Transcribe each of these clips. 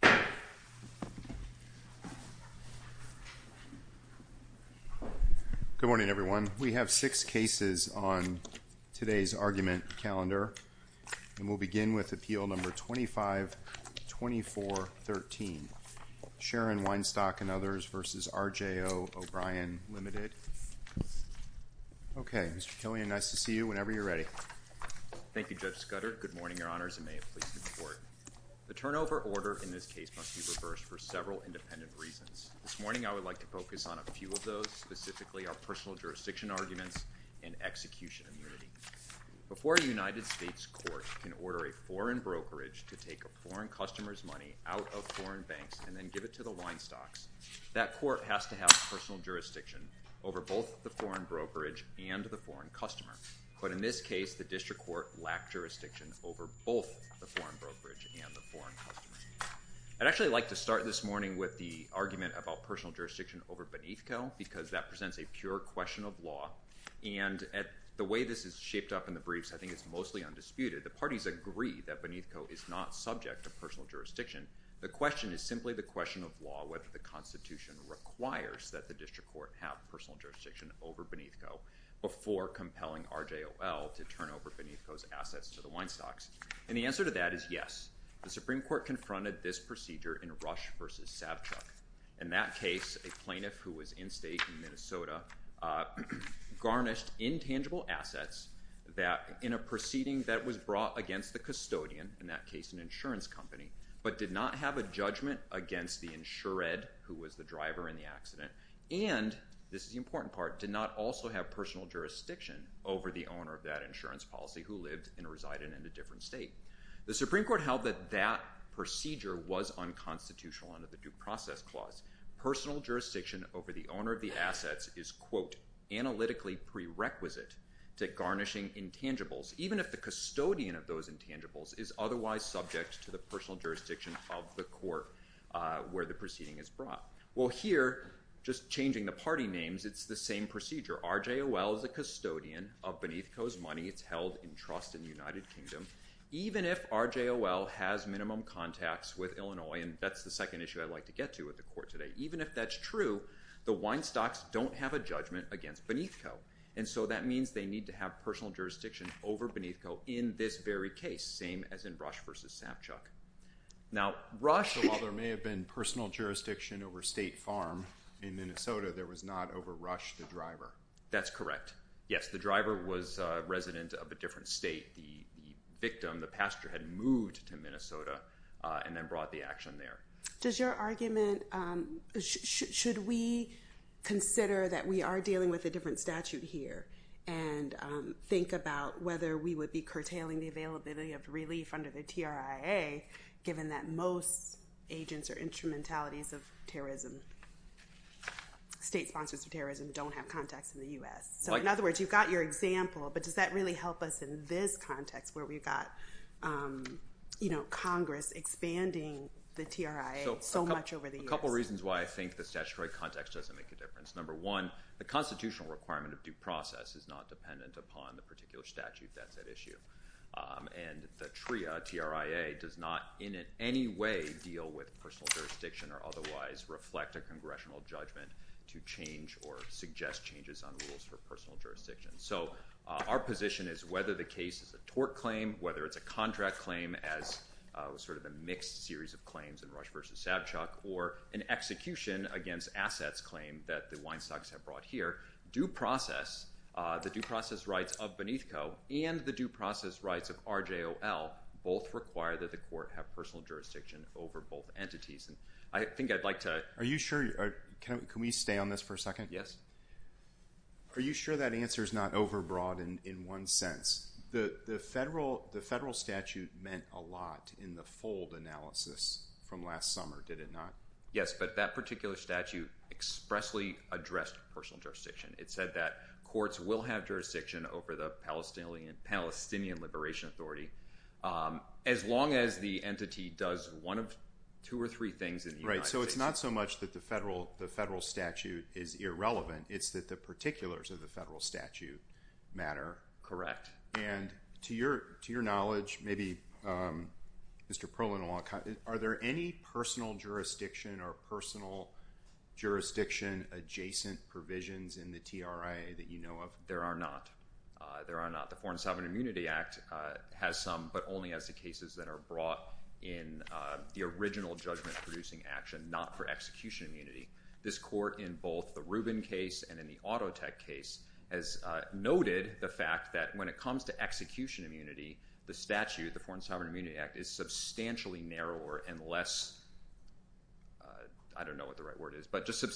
Good morning, everyone. We have six cases on today's argument calendar, and we'll begin with Appeal No. 25-2413, Sharon Weinstock v. R.J. O'Brien Limited. Okay, Mr. Killian, nice to see you whenever you're ready. Thank you, Judge Scudder. Good morning, Your Honor. The case must be reversed for several independent reasons. This morning, I would like to focus on a few of those. Specifically, our personal jurisdiction arguments and execution immunity. Before a United States court can order a foreign brokerage to take a foreign customer's money out of foreign banks and then give it to the Weinstocks, that court has to have personal jurisdiction over both the foreign brokerage and the foreign customer. But in this case, the district court lacked jurisdiction over both the foreign brokerage and the foreign customer. I'd actually like to start this morning with the argument about personal jurisdiction over Beneathco, because that presents a pure question of law. And the way this is shaped up in the briefs, I think it's mostly undisputed. The parties agree that Beneathco is not subject to personal jurisdiction. The question is simply the question of law, whether the Constitution requires that the district court have personal jurisdiction over Beneathco before compelling RJOL to turn over Beneathco's assets to the Weinstocks. And the answer to that is yes. The Supreme Court confronted this procedure in Rush v. Savchuk. In that case, a plaintiff who was in state in Minnesota garnished intangible assets in a proceeding that was brought against the custodian, in that case an insurance company, but did not have a judgment against the insured who was the driver in the accident, and this is the important part, did not also have personal jurisdiction over the owner of that insurance policy who lived and resided in a different state. The Supreme Court held that that procedure was unconstitutional under the Due Process Clause. Personal jurisdiction over the owner of the assets is, quote, analytically prerequisite to garnishing intangibles, even if the custodian of those intangibles is otherwise subject to the personal jurisdiction of the court where the proceeding is brought. Well, here, just changing the party names, it's the same United Kingdom. Even if RJOL has minimum contacts with Illinois, and that's the second issue I'd like to get to with the court today, even if that's true, the Weinstocks don't have a judgment against Beneathco, and so that means they need to have personal jurisdiction over Beneathco in this very case, same as in Rush v. Savchuk. Now, Rush... So while there may have been personal jurisdiction over State Farm in Minnesota, there was not personal jurisdiction over Rush the driver. That's correct. Yes, the driver was a resident of a different state. The victim, the pastor, had moved to Minnesota and then brought the action there. Does your argument... Should we consider that we are dealing with a different statute here and think about whether we would be curtailing the availability of relief under the TRIA, given that most agents or instrumentalities of terrorism, state sponsors of terrorism, don't have contacts in the U.S.? So in other words, you've got your example, but does that really help us in this context where we've got Congress expanding the TRIA so much over the years? A couple of reasons why I think the statutory context doesn't make a difference. Number one, the constitutional requirement of due process, the TRIA, does not in any way deal with personal jurisdiction or otherwise reflect a congressional judgment to change or suggest changes on rules for personal jurisdiction. So our position is whether the case is a tort claim, whether it's a contract claim as sort of a mixed series of claims in Rush v. Savchuk, or an execution against assets claim that the Weinstocks have brought here, due process, the due process rights of Beneathco and the due process rights of RJOL both require that the court have personal jurisdiction over both entities. And I think I'd like to... Are you sure? Can we stay on this for a second? Yes. Are you sure that answer is not overbroad in one sense? The federal statute meant a lot in the fold analysis from last summer, did it not? Yes, but that particular statute expressly addressed personal jurisdiction. It said that courts will have jurisdiction over the Palestinian Liberation Authority as long as the entity does one of two or three things in the United States. Right. So it's not so much that the federal statute is irrelevant. It's that the particulars of the federal statute matter. Correct. And to your knowledge, maybe Mr. Perlin, are there any personal jurisdiction or personal jurisdiction adjacent provisions in the TRIA that you know of? There are not. There are not. The Foreign Sovereign Immunity Act has some, but only has the cases that are brought in the original judgment producing action, not for execution immunity. This court in both the Rubin case and in the AutoTech case has noted the fact that when it comes to execution immunity, the statute, the Foreign Sovereign Immunity Act is substantially narrower and less... I don't know what the right word is, but just And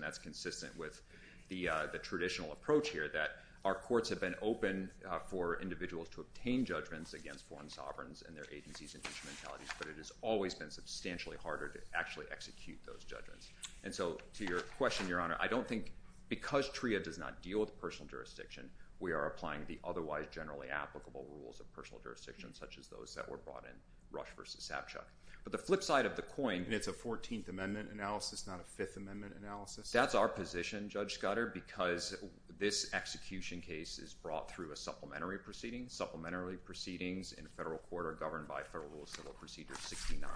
that's consistent with the traditional approach here, that our courts have been open for individuals to obtain judgments against foreign sovereigns and their agencies and instrumentalities, but it has always been substantially harder to actually execute those judgments. And so to your question, Your Honor, I don't think because TRIA does not deal with personal jurisdiction, we are applying the otherwise generally applicable rules of personal jurisdiction, such as those that were brought in Rush v. Savchuk. But the flip side of the And it's a Fourteenth Amendment analysis, not a Fifth Amendment analysis? That's our position, Judge Scudder, because this execution case is brought through a supplementary proceeding. Supplementary proceedings in federal court are governed by Federal Rule of Civil Procedure 69.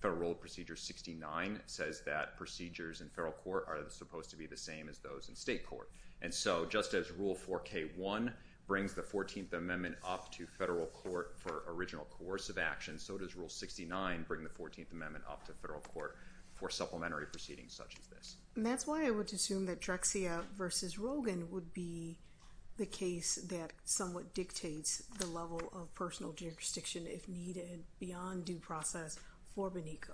Federal Rule of Procedure 69 says that procedures in federal court are supposed to be the same as those in state court. And so just as Rule 4K1 brings the Fourteenth Amendment up to federal court for original coercive action, so does Rule 69 bring the Fourteenth Amendment up to federal court for supplementary proceedings such as this. And that's why I would assume that Drexia v. Rogan would be the case that somewhat dictates the level of personal jurisdiction, if needed, beyond due process for Benico.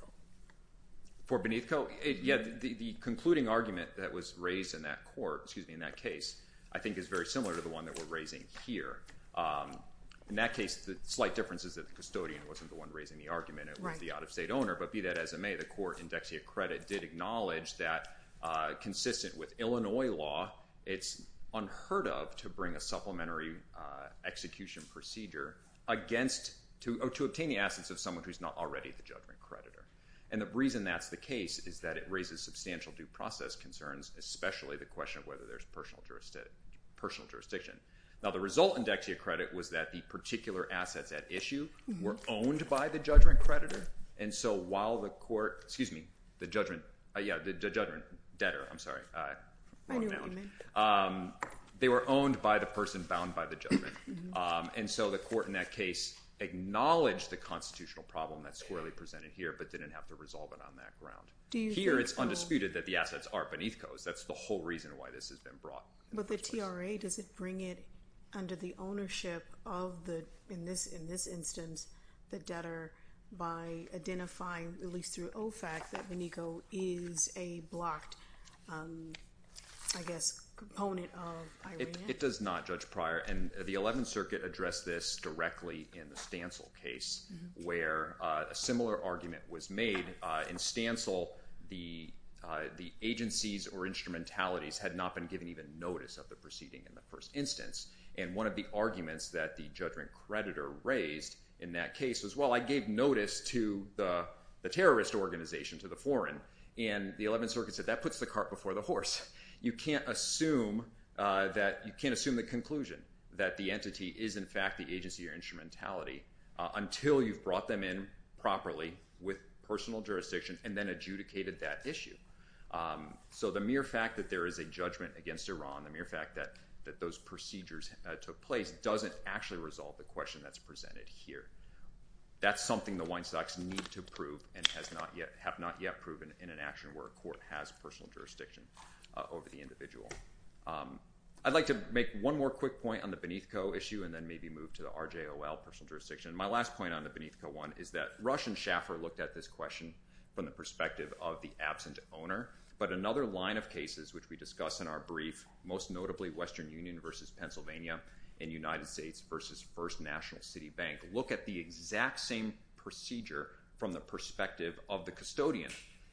For Benico? Yeah, the concluding argument that was raised in that court, excuse me, in that case, I think is very similar to the one that we're raising here. In that case, the slight difference is that the custodian wasn't the one raising the argument. It was the out-of-state owner. But be that as it may, the court in Dexia Credit did acknowledge that, consistent with Illinois law, it's unheard of to bring a supplementary execution procedure to obtain the assets of someone who's not already the judgment creditor. And the reason that's the case is that it raises substantial due process concerns, especially the question of whether there's personal jurisdiction. Now, the result in Dexia Credit was that the particular assets at issue were owned by the judgment creditor. And so while the court, excuse me, the judgment, yeah, the judgment debtor, I'm sorry, wrong noun. They were owned by the person bound by the judgment. And so the court in that case acknowledged the constitutional problem that's clearly presented here, but didn't have to resolve it on that ground. Here, it's undisputed that the assets are Benico's. That's the whole reason why this has been brought. But the TRA, does it bring it under the ownership of the, in this instance, the debtor by identifying, at least through OFAC, that Benico is a blocked, I guess, component of IRENA? It does not, Judge Pryor. And the Eleventh Circuit addressed this directly in the Stancil case, where a similar argument was made. In Stancil, the agencies or instrumentalities had not been given even notice of the proceeding in the first instance. And one of the arguments that the judgment creditor raised in that case was, well, I gave notice to the terrorist organization, to the foreign, and the Eleventh Circuit said, that puts the cart before the horse. You can't assume that, you can't assume the conclusion that the entity is in fact the agency or instrumentality until you've brought them in properly with personal jurisdiction and then adjudicated that issue. So the mere fact that there is a judgment against Iran, the mere fact that those procedures took place doesn't actually resolve the question that's presented here. That's something the Weinstocks need to prove and have not yet proven in an action where a court has personal jurisdiction over the individual. I'd like to make one more quick point on the Benico issue and then maybe move to the RJOL personal jurisdiction. My last point on the Benico one is that Rush and Schaffer looked at this question from the perspective of the absent owner. But another line of cases, which we discuss in our brief, most notably Western Union versus Pennsylvania and United States versus First National City Bank, look at the exact same procedure from the perspective of the custodian.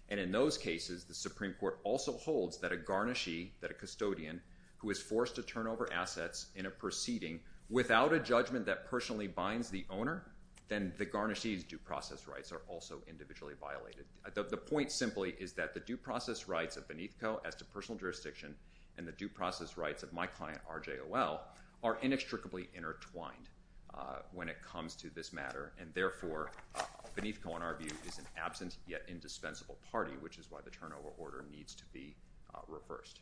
And in those cases, the Supreme Court also holds that a garnishee, that a custodian who is forced to turn over assets in a proceeding without a judgment that personally binds the owner, then the garnishee's due process rights are also individually violated. The point simply is that the due process rights of Benico as to personal jurisdiction and the due process rights of my client RJOL are inextricably intertwined when it comes to this matter. And therefore, Benico, in our view, is an absent yet indispensable party, which is why the turnover order needs to be reversed.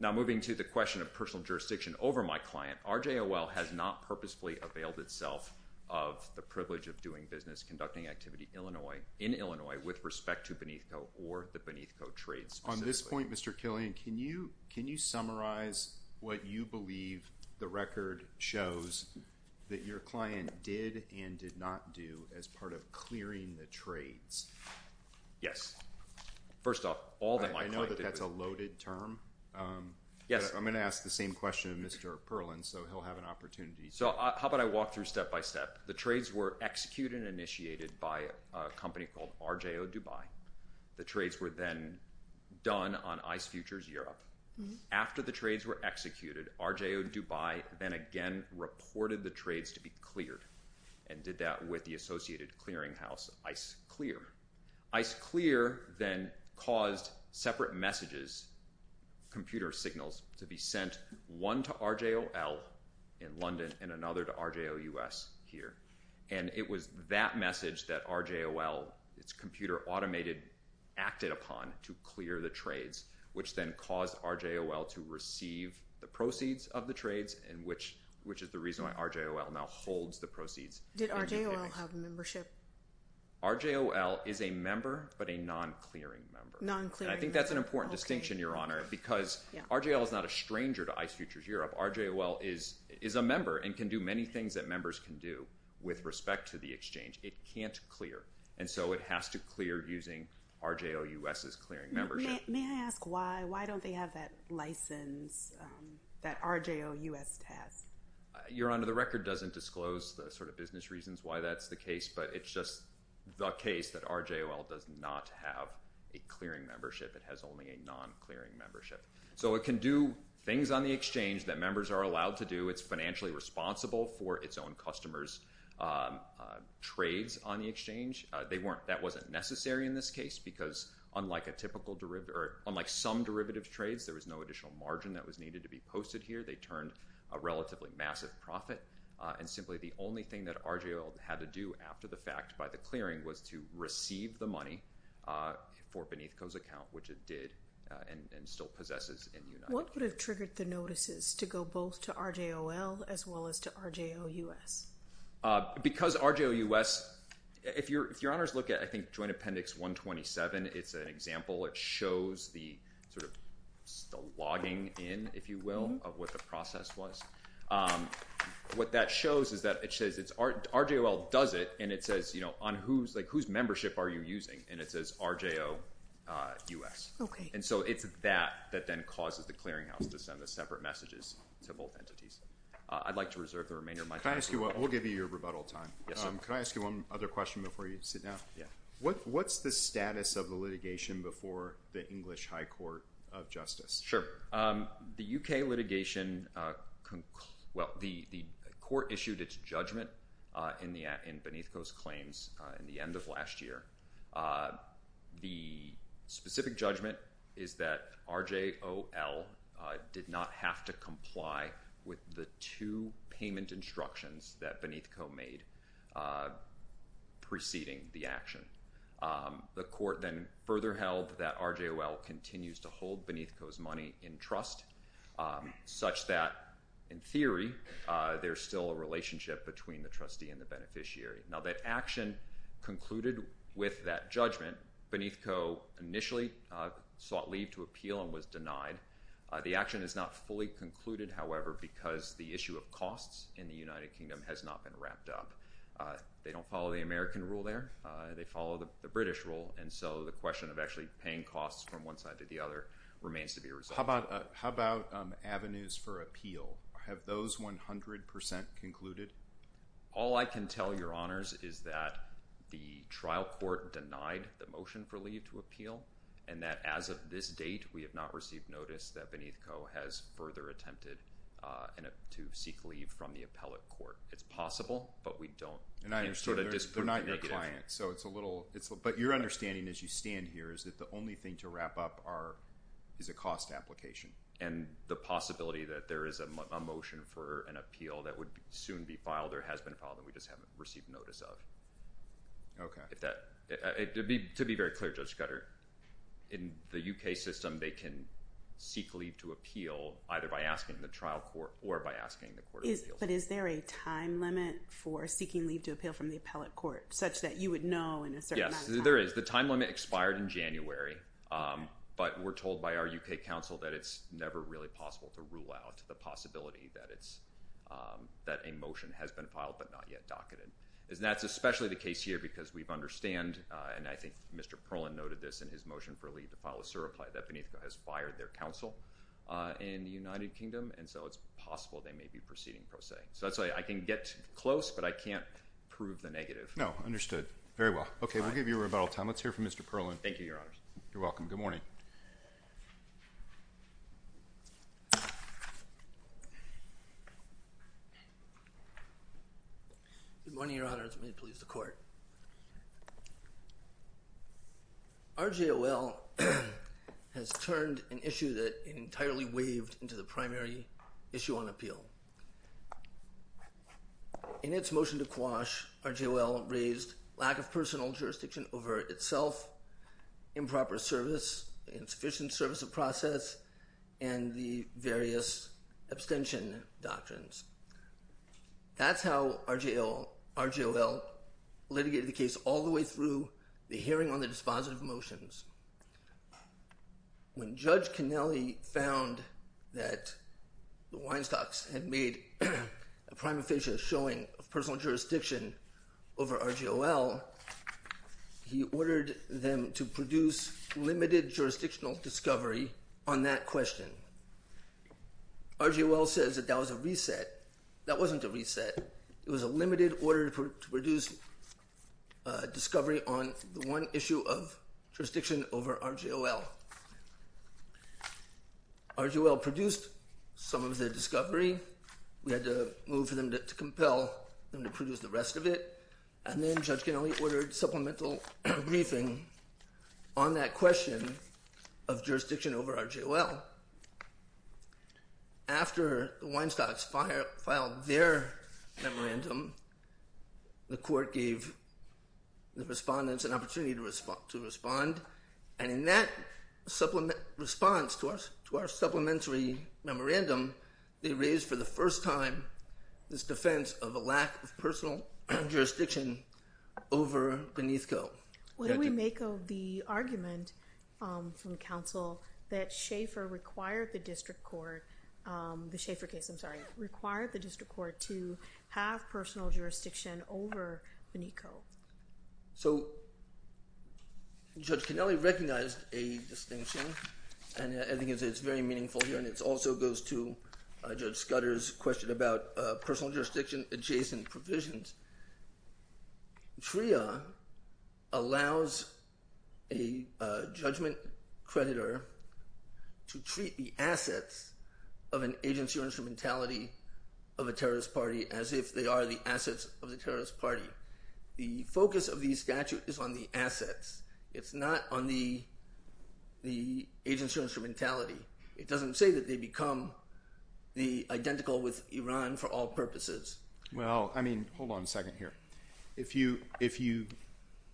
Now moving to the question of personal jurisdiction over my client, RJOL has not availed itself of the privilege of doing business, conducting activity in Illinois with respect to Benico or the Benico trades. On this point, Mr. Killian, can you summarize what you believe the record shows that your client did and did not do as part of clearing the trades? Yes. First off, all that my client did- I know that that's a loaded term. I'm going to ask the same question of Mr. Perlin, so he'll have an opportunity. How about I walk through step-by-step? The trades were executed and initiated by a company called RJO Dubai. The trades were then done on ICE Futures Europe. After the trades were executed, RJO Dubai then again reported the trades to be cleared and did that with the associated clearing house, ICE Clear. ICE Clear then caused separate messages, computer signals, to be sent one to RJOL in London and another to RJO US here. It was that message that RJOL, its computer automated, acted upon to clear the trades, which then caused RJOL to receive the proceeds of the trades and which is the reason why RJOL now holds the proceeds. Did RJOL have a membership? RJOL is a member, but a non-clearing member. Non-clearing member. I think that's an important distinction, because RJOL is not a stranger to ICE Futures Europe. RJOL is a member and can do many things that members can do with respect to the exchange. It can't clear, and so it has to clear using RJO US's clearing membership. May I ask why don't they have that license that RJO US has? Your Honor, the record doesn't disclose the business reasons why that's the case, but it's the case that RJOL does not have a clearing membership. It has only a non-clearing membership. So it can do things on the exchange that members are allowed to do. It's financially responsible for its own customers' trades on the exchange. That wasn't necessary in this case, because unlike some derivative trades, there was no additional margin that was needed to be posted here. They turned a relatively massive profit, and simply the only thing that RJOL had to do after the fact by the clearing was to receive the money for Benethko's account, which it did and still possesses in United Kingdom. What would have triggered the notices to go both to RJOL as well as to RJO US? Because RJO US, if Your Honors look at, I think, Joint Appendix 127, it's an example. It shows the sort of logging in, if you will, of what the process was. What that shows is that it says RJOL does it, and it says, whose membership are you using? And it says RJO US. And so it's that that then causes the clearinghouse to send the separate messages to both entities. I'd like to reserve the remainder of my time. We'll give you your rebuttal time. Can I ask you one other question before you sit down? What's the status of the litigation before the English High Court of Justice? Sure. The UK litigation, well, the court issued its judgment in Benethko's claims in the end of last year. The specific judgment is that RJOL did not have to comply with the two payment instructions that Benethko made preceding the action. The court then further held that RJOL continues to hold Benethko's money in trust, such that, in theory, there's still a relationship between the trustee and the beneficiary. Now, that action concluded with that judgment, Benethko initially sought leave to appeal and was denied. The action is not fully concluded, however, because the issue of costs in the United Kingdom has not been wrapped up. They don't follow the American rule there. They follow the British rule. And so the question of actually paying costs from one side to the other remains to be resolved. How about avenues for appeal? Have those 100% concluded? All I can tell your honors is that the trial court denied the motion for leave to appeal and that, as of this date, we have not received notice that Benethko has further attempted to seek leave from the appellate court. It's possible, but we don't know. But your understanding as you stand here is that the only thing to wrap up is a cost application. And the possibility that there is a motion for an appeal that would soon be filed or has been filed that we just haven't received notice of. To be very clear, Judge Cutter, in the UK system, they can seek leave to appeal either by asking the trial court or by asking the appeal court. But is there a time limit for seeking leave to appeal from the appellate court such that you would know in a certain amount of time? Yes, there is. The time limit expired in January. But we're told by our UK counsel that it's never really possible to rule out the possibility that a motion has been filed but not yet docketed. And that's especially the case here because we understand, and I think Mr. Perlin noted this in his motion for leave to file a certify that Benethko has fired their counsel in the United Kingdom. And so it's possible they may be proceeding pro se. So that's why I can get close but I can't prove the negative. No, understood. Very well. Okay, we'll give you a rebuttal time. Let's hear from Mr. Perlin. Thank you, Your Honors. You're welcome. Good morning. Good morning, Your Honors. May it please the court. RJOL has turned an issue that entirely waved into the primary issue on appeal. In its motion to quash, RJOL raised lack of personal jurisdiction over itself, improper service, insufficient service of process, and the various abstention doctrines. That's how RJOL litigated the case all the way through the hearing on the dispositive motions. When Judge Connelly found that the Weinstocks had made a prima facie showing of personal jurisdiction over RJOL, he ordered them to produce limited jurisdictional discovery on that question. RJOL says that that was a reset. That wasn't a reset. It was a limited order to produce discovery on the one issue of jurisdiction over RJOL. RJOL produced some of the discovery. We had to move for them to compel them to produce the rest of it. Then Judge Connelly ordered supplemental briefing on that question of jurisdiction over RJOL. After the Weinstocks filed their memorandum, the court gave the respondents an opportunity to respond. In that response to our supplementary memorandum, they raised for the first time this defense of a lack of personal jurisdiction over Benethco. What do we make of the argument from counsel that Shafer required the district court, the Shafer case, I'm sorry, required the district court to have personal jurisdiction over Benethco? Judge Connelly recognized a distinction. I think it's very meaningful here. It also goes to Judge Scudder's question about personal jurisdiction adjacent provisions. TRIA allows a judgment creditor to treat the assets of an agency or instrumentality of a terrorist party as if they are the assets of the terrorist party. The focus of the statute is on the assets. It's not on the agency or instrumentality. It doesn't say that they become identical with Iran for all purposes. I mean, hold on a second here. If you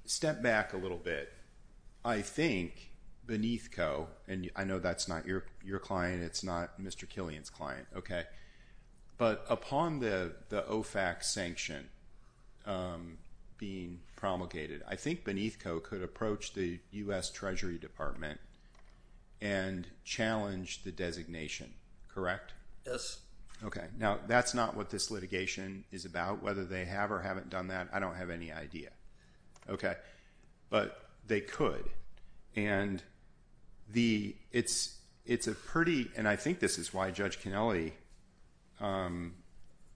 step back a little bit, I think Benethco, and I know that's not your client, it's not Mr. Killian's client, but upon the OFAC sanction being promulgated, I think Benethco could approach the U.S. Treasury Department and challenge the designation, correct? Yes. Okay. Now, that's not what this litigation is about. Whether they have or haven't done that, I don't have any idea. Okay. But they could. And it's a pretty, and I think this is why Judge Connelly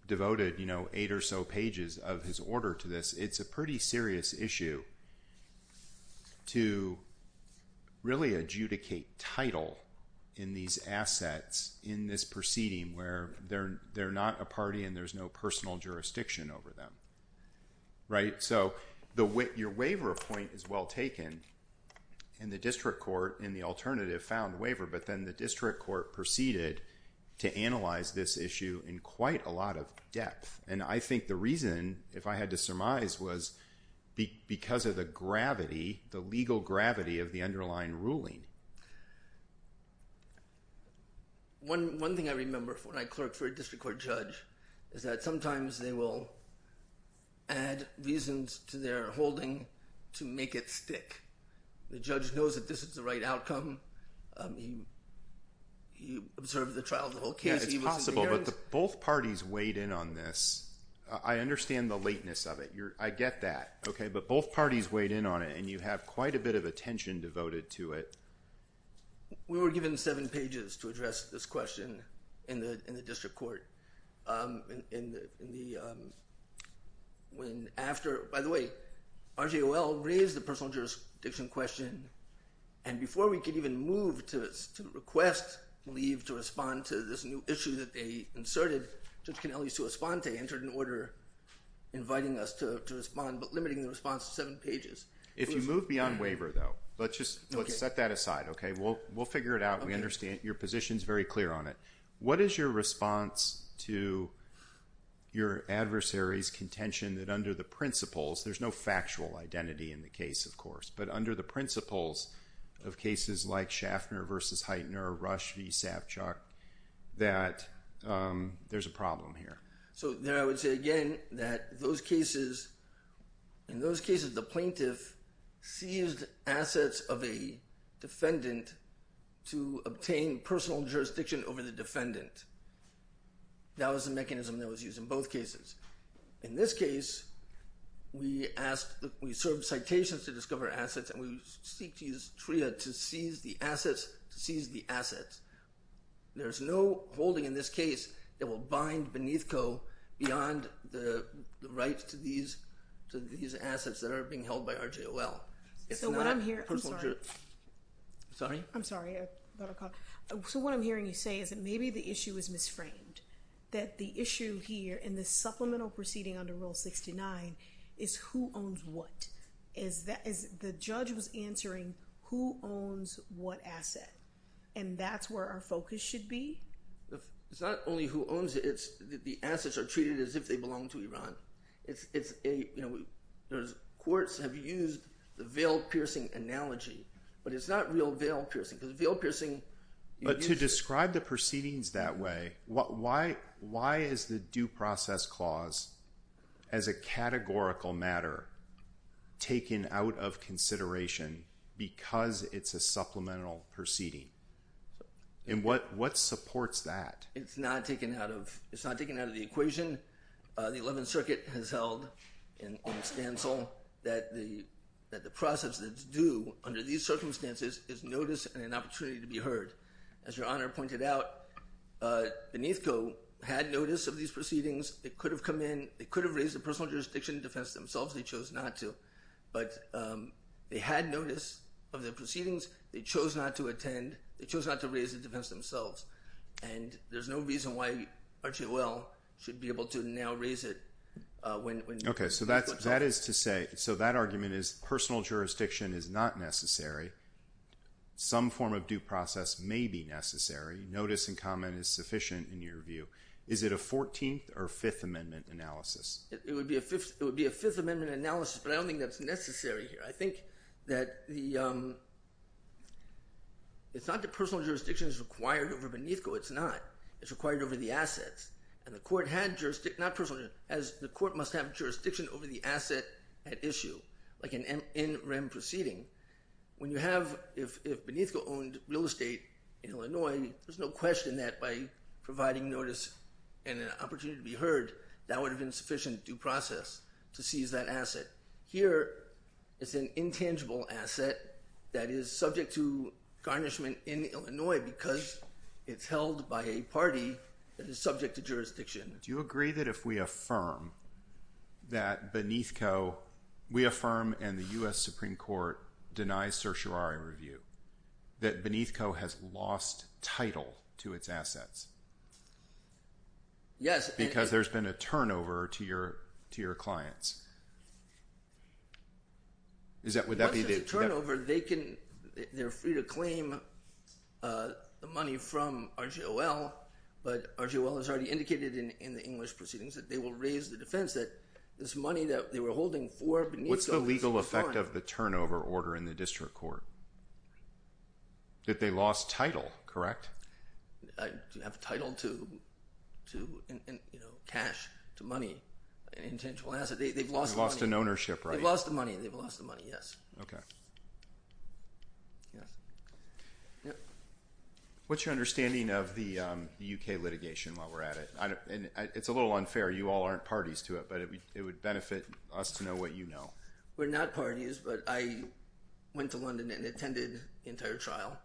devoted eight or so pages of his order to this, it's a pretty serious issue, to really adjudicate title in these assets in this proceeding where they're not a party and there's no personal jurisdiction over them, right? So your waiver point is well taken, and the district court in the alternative found waiver, but then the district court proceeded to analyze this issue in quite a lot of depth. And I think the reason, if I had to surmise, was because of the gravity, the legal gravity of the underlying ruling. One thing I remember when I clerked for a district court judge is that sometimes they will add reasons to their holding to make it stick. The judge knows that this is the right outcome. He observed the trial, the whole case. Yeah, it's possible, but both parties weighed in on this. I understand the lateness of it. I get that, but both parties weighed in on it, and you have quite a bit of attention devoted to it. We were given seven pages to address this question in the district court. When after, by the way, RJOL raised the personal jurisdiction question, and before we could even move to request leave to respond to this new issue that they inserted, Judge Canelli's to respond to entered an order inviting us to respond, but limiting the response to seven pages. If you move beyond waiver, though, let's just set that aside. We'll figure it out. We understand. Your position's very clear on it. What is your response to your adversary's contention that under the principles, there's no factual identity in the case, of course, but under the principles of cases like Schaffner versus Heitner, Rush v. Savchuk, that there's a problem here? There I would say, again, that in those cases, the plaintiff seized assets of a defendant to obtain personal jurisdiction over the defendant. That was the mechanism that was used in both cases. In this case, we served citations to discover assets, and we seek to use TRIA to seize the assets to seize the assets. There's no holding in this case that will bind Beneathco beyond the rights to these assets that are being held by RJOL. It's not personal jurisdiction. Sorry? I'm sorry. So what I'm hearing you say is that maybe the issue is misframed, that the issue here in the supplemental proceeding under Rule 69 is who owns what, as the judge was answering who owns what asset, and that's where our focus should be? It's not only who owns it, it's the assets are treated as if they belong to Iran. Courts have used the veil-piercing analogy, but it's not real veil-piercing, because veil-piercing... But to describe the proceedings that way, why is the due process clause as a categorical matter taken out of consideration because it's a supplemental proceeding? And what supports that? It's not taken out of the equation. The 11th Circuit has held in its stance that the process that's due under these circumstances is notice and an opportunity to be heard. As Your Honor pointed out, Beneathco had notice of these proceedings. They could have come in, they could have raised a personal jurisdiction defense themselves. They chose not to, but they had notice of the proceedings, they chose not to attend, they chose not to raise the defense themselves. And there's no reason why RGOL should be able to now raise it when... Okay, so that is to say, so that argument is personal jurisdiction is not necessary. Some form of due process may be necessary. Notice and comment is sufficient in your view. Is it a 14th or Fifth Amendment analysis? It would be a Fifth Amendment analysis, but I don't think that's necessary here. I think that it's not that personal jurisdiction is required over Beneathco, it's not. It's required over the assets. And the court must have jurisdiction over the asset at issue, like an NREM proceeding. When you have... If Beneathco owned real estate in Illinois, there's no question that by providing notice and an opportunity to be heard, that would have been sufficient due process to seize that asset. Here, it's an intangible asset that is subject to garnishment in Illinois because it's held by a party that is subject to jurisdiction. Do you agree that if we affirm that Beneathco, we affirm and the US Supreme Court denies certiorari review, that Beneathco has lost title to its assets? Yes. Because there's been a turnover to your clients. Would that be the... Once there's a turnover, they're free to claim the money from RGOL, but RGOL has already indicated in the English proceedings that they will raise the defense that this money that they were holding for Beneathco... What's the legal effect of the turnover order in the district court? That they lost title, correct? I have title to cash, to money, an intangible asset. They've lost money. They've lost an ownership, right? They've lost the money. They've lost the money, yes. Okay. What's your understanding of the UK litigation while we're at it? It's a little unfair. You all aren't parties to it, but it would benefit us to know what you know. We're not parties, but I attended the entire trial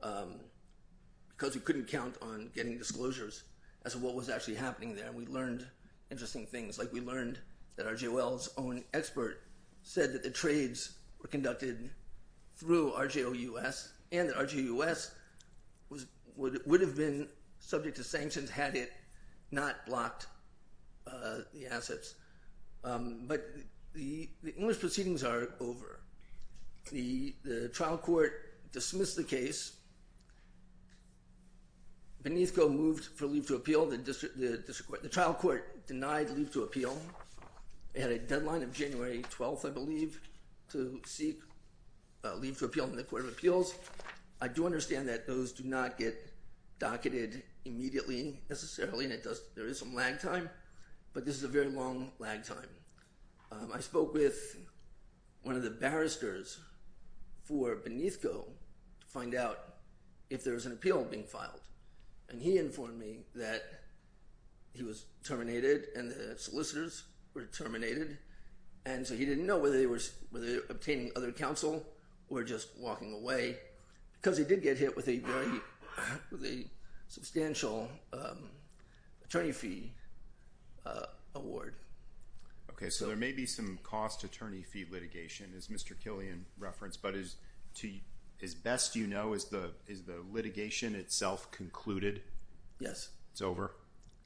because we couldn't count on getting disclosures as to what was actually happening there. We learned interesting things. We learned that RGOL's own expert said that the trades were conducted through RGOUS and that RGOUS would have been subject to sanctions had it not blocked the assets. But the English proceedings are over. The trial court dismissed the case. Beneathco moved for leave to appeal. The trial court denied leave to appeal. It had a deadline of January 12th, I believe, to seek leave to appeal in the Court of Appeals. I do understand that those do not get docketed immediately, necessarily, and there is lag time, but this is a very long lag time. I spoke with one of the barristers for Beneathco to find out if there was an appeal being filed. He informed me that he was terminated and the solicitors were terminated. He didn't know whether they were obtaining other counsel or just walking away because he did get hit with a very substantial attorney fee award. Okay, so there may be some cost attorney fee litigation, as Mr. Killian referenced, but as best you know, is the litigation itself concluded? Yes. It's over?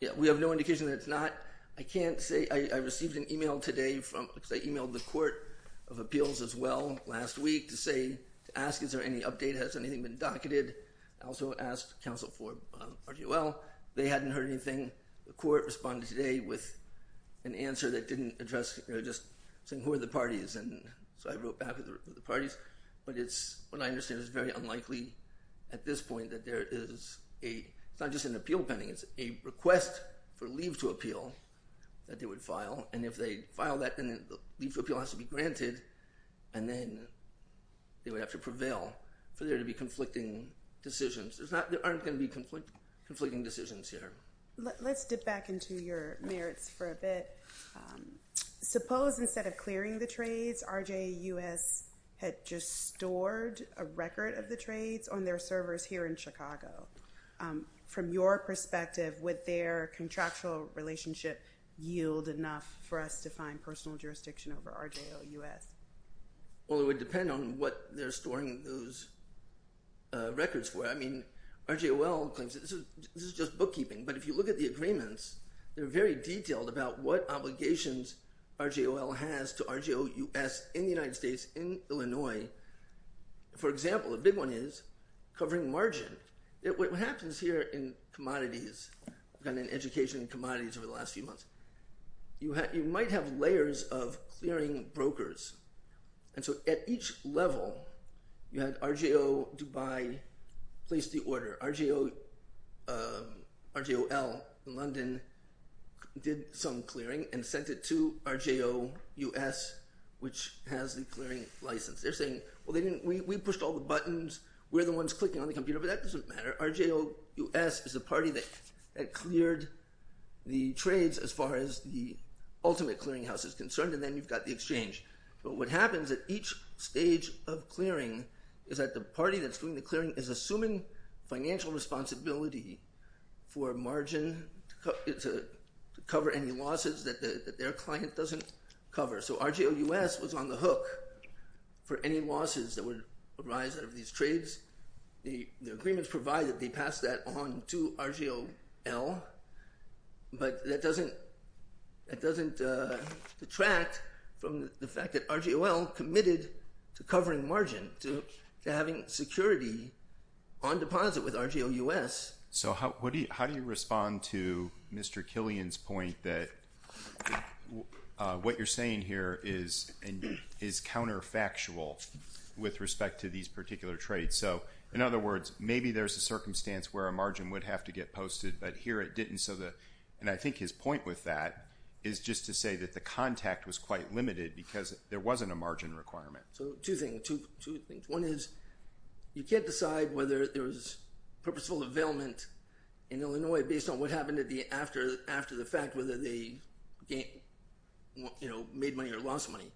Yeah, we have no indication that it's not. I can't say. I received an email today from, I emailed the Court of Appeals as well last week to say, to ask is there any update, has anything been docketed? I also asked counsel for RGOL. They hadn't heard anything. The court responded today with an answer that didn't address, you know, just saying who are the parties, and so I wrote back with the parties, but it's what I understand is very unlikely at this point that there is a, it's not just an appeal pending, it's a request for leave to appeal that they would file, and if they file that, then leave to appeal has to be granted, and then they would have to prevail for there to be conflicting decisions. There's not, there aren't going to be conflicting decisions here. Let's dip back into your merits for a bit. Suppose instead of clearing the trades, RJUS had just stored a record of the trades on their servers here in Chicago. From your perspective, would their contractual relationship yield enough for us to find personal jurisdiction over RJUS? Well, it would depend on what they're storing those records for. I mean, RGOL claims this is just bookkeeping, but if you look at the agreements, they're very detailed about what obligations RGOL has to RJUS in the United States, in Illinois. For example, the big one is covering margin. What happens here in commodities, kind of education in commodities over the last few months, you might have layers of clearing brokers, and so at each level, you had RJO Dubai place the order. RGOL in London did some clearing and sent it to RJUS, which has a clearing license. They're saying, well, we pushed all the buttons, we're the ones clicking on the computer, but that doesn't matter. RJUS is the party that cleared the trades as far as the ultimate clearing house is concerned, and then you've got the exchange. But what happens at each stage of clearing is that the party that's doing the clearing is assuming financial responsibility for margin to cover any losses that their client doesn't cover. So RJUS was on the hook for any losses that would arise out of these trades. The agreements provided, they passed that on to RGOL, but that doesn't detract from the fact that RGOL committed to covering margin, to having security on deposit with RJUS. So how do you respond to Mr. Killian's point that what you're saying here is counterfactual with respect to these particular trades? So in other words, maybe there's a circumstance where a margin would have to get posted, but here it didn't. And I think his point with that is just to say that the contact was quite limited because there wasn't a margin requirement. So two things. One is you can't decide whether there was purposeful availment in Illinois based on what happened after the fact, whether they made money or lost money.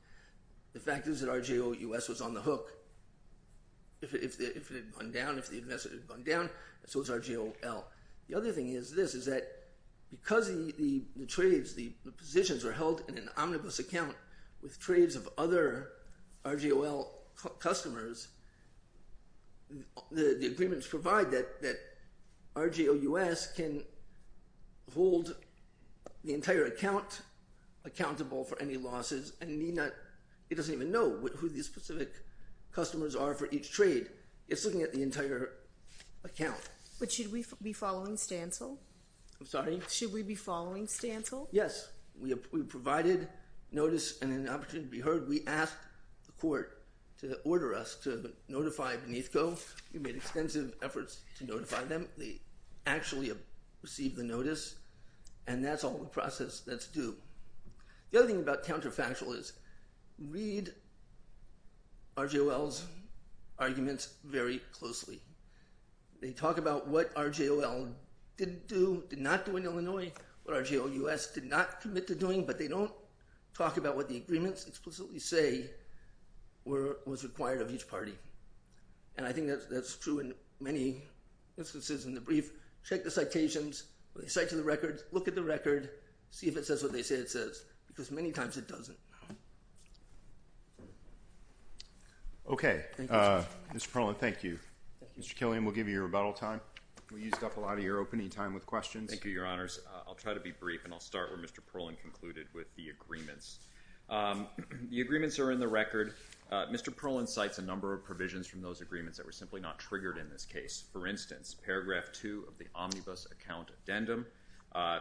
The fact is that RJUS was on the hook. If it had gone down, if the investor had gone down, so was RGOL. The other thing is this, is that because the trades, the positions are held in an omnibus account with trades of other RGOL customers, the agreements provide that RGOUS can hold the entire account accountable for any losses and need not, it doesn't even know who the specific customers are for each trade. It's looking at the entire account. But should we be following Stancil? I'm sorry? Should we be following Stancil? Yes. We provided notice and an opportunity to be heard. We asked the court to order us to notify Beneathco. We made extensive efforts to notify them. They actually received the notice and that's all the process that's due. The other thing about is read RGOL's arguments very closely. They talk about what RGOL didn't do, did not do in Illinois, what RGOUS did not commit to doing, but they don't talk about what the agreements explicitly say were, was required of each party. And I think that's true in many instances in the brief. Check the citations, cite to the records, look at the record, see if it says what they say it doesn't. Okay. Mr. Perlin, thank you. Mr. Killian, we'll give you your rebuttal time. We used up a lot of your opening time with questions. Thank you, your honors. I'll try to be brief and I'll start where Mr. Perlin concluded with the agreements. The agreements are in the record. Mr. Perlin cites a number of provisions from those agreements that were simply not triggered in this case. For instance, paragraph two of the omnibus account addendum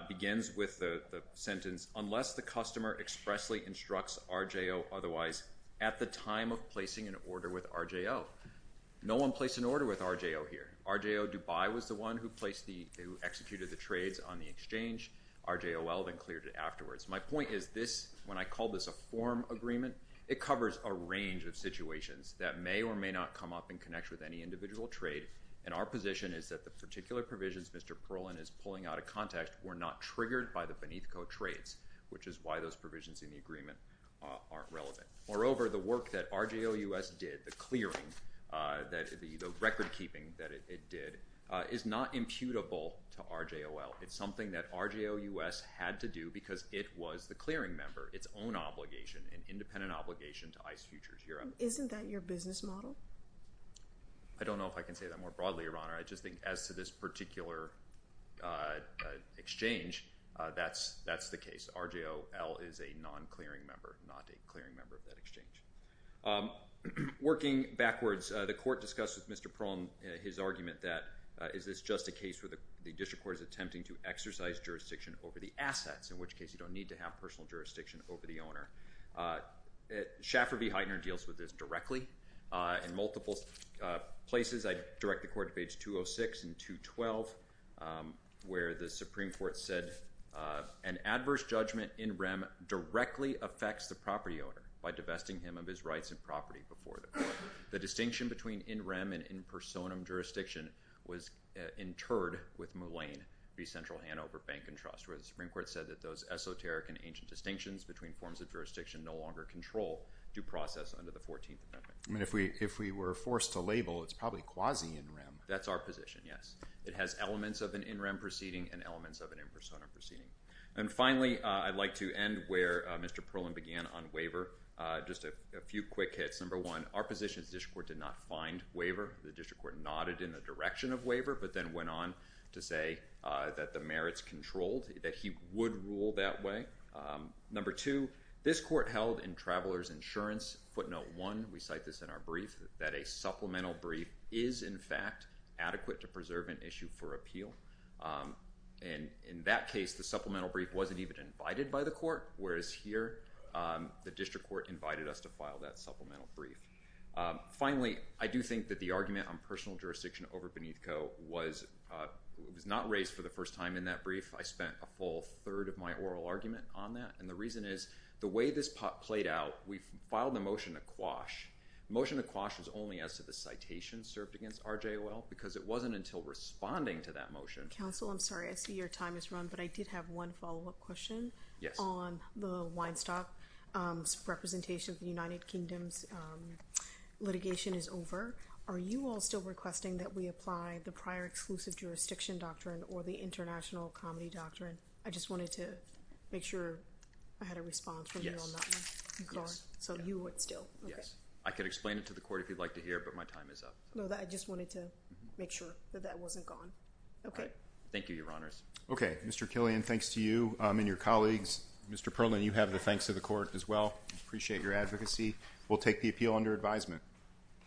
begins with the sentence, unless the customer expressly instructs RGO otherwise at the time of placing an order with RGO. No one placed an order with RGO here. RGO Dubai was the one who placed the, who executed the trades on the exchange. RGOL then cleared it afterwards. My point is this, when I call this a form agreement, it covers a range of situations that may or may not come up and connect with any individual trade. And our position is that the particular provisions Mr. Perlin is pulling out context were not triggered by the Beneathco trades, which is why those provisions in the agreement aren't relevant. Moreover, the work that RGO US did, the clearing, the record keeping that it did is not imputable to RGOL. It's something that RGO US had to do because it was the clearing member, its own obligation, an independent obligation to ICE Futures Europe. Isn't that your business model? I don't know if I can say that more broadly, your honor. I just think as to this particular exchange, that's the case. RGOL is a non-clearing member, not a clearing member of that exchange. Working backwards, the court discussed with Mr. Perlin his argument that is this just a case where the district court is attempting to exercise jurisdiction over the assets, in which case you don't need to have personal jurisdiction over the owner. Shaffer v. Heitner deals with this directly in multiple places. I direct the court to page 206 and 212, where the Supreme Court said an adverse judgment in rem directly affects the property owner by divesting him of his rights and property before them. The distinction between in rem and in personam jurisdiction was interred with Mullane v. Central Hanover Bank and Trust, where the Supreme Court said that those esoteric and ancient distinctions between forms of jurisdiction no longer control due process under the 14th Amendment. I mean, if we were forced to label, it's probably quasi-in rem. That's our position, yes. It has elements of an in rem proceeding and elements of an in personam proceeding. And finally, I'd like to end where Mr. Perlin began on waiver. Just a few quick hits. Number one, our position is the district court did not find waiver. The district court nodded in the direction of waiver, but then went on to say that the merits controlled, that he would rule that way. Number two, this court held in Traveler's Insurance, footnote one, we cite this in our brief, that a supplemental brief is in fact adequate to preserve an issue for appeal. And in that case, the supplemental brief wasn't even invited by the court, whereas here, the district court invited us to file that supplemental brief. Finally, I do think that the argument on personal jurisdiction over Beneathco was not raised for the first time in that brief. I spent a full third of my oral argument on that. And the reason is, the way this played out, we filed the motion to quash. The motion to quash was only as to the citation served against RJOL, because it wasn't until responding to that motion- Counsel, I'm sorry. I see your time has run, but I did have one follow-up question. Yes. On the Weinstock representation of the United Kingdom's litigation is over. Are you all still requesting that we apply the prior exclusive jurisdiction doctrine or the international comedy doctrine? I just wanted to make sure I had a response from you on that one. You're gone? So you would still? Yes. I could explain it to the court if you'd like to hear, but my time is up. No, I just wanted to make sure that that wasn't gone. Okay. Thank you, Your Honors. Okay. Mr. Killian, thanks to you and your colleagues. Mr. Perlin, you have the thanks to the court as well. Appreciate your advocacy. We'll take the appeal under advisement.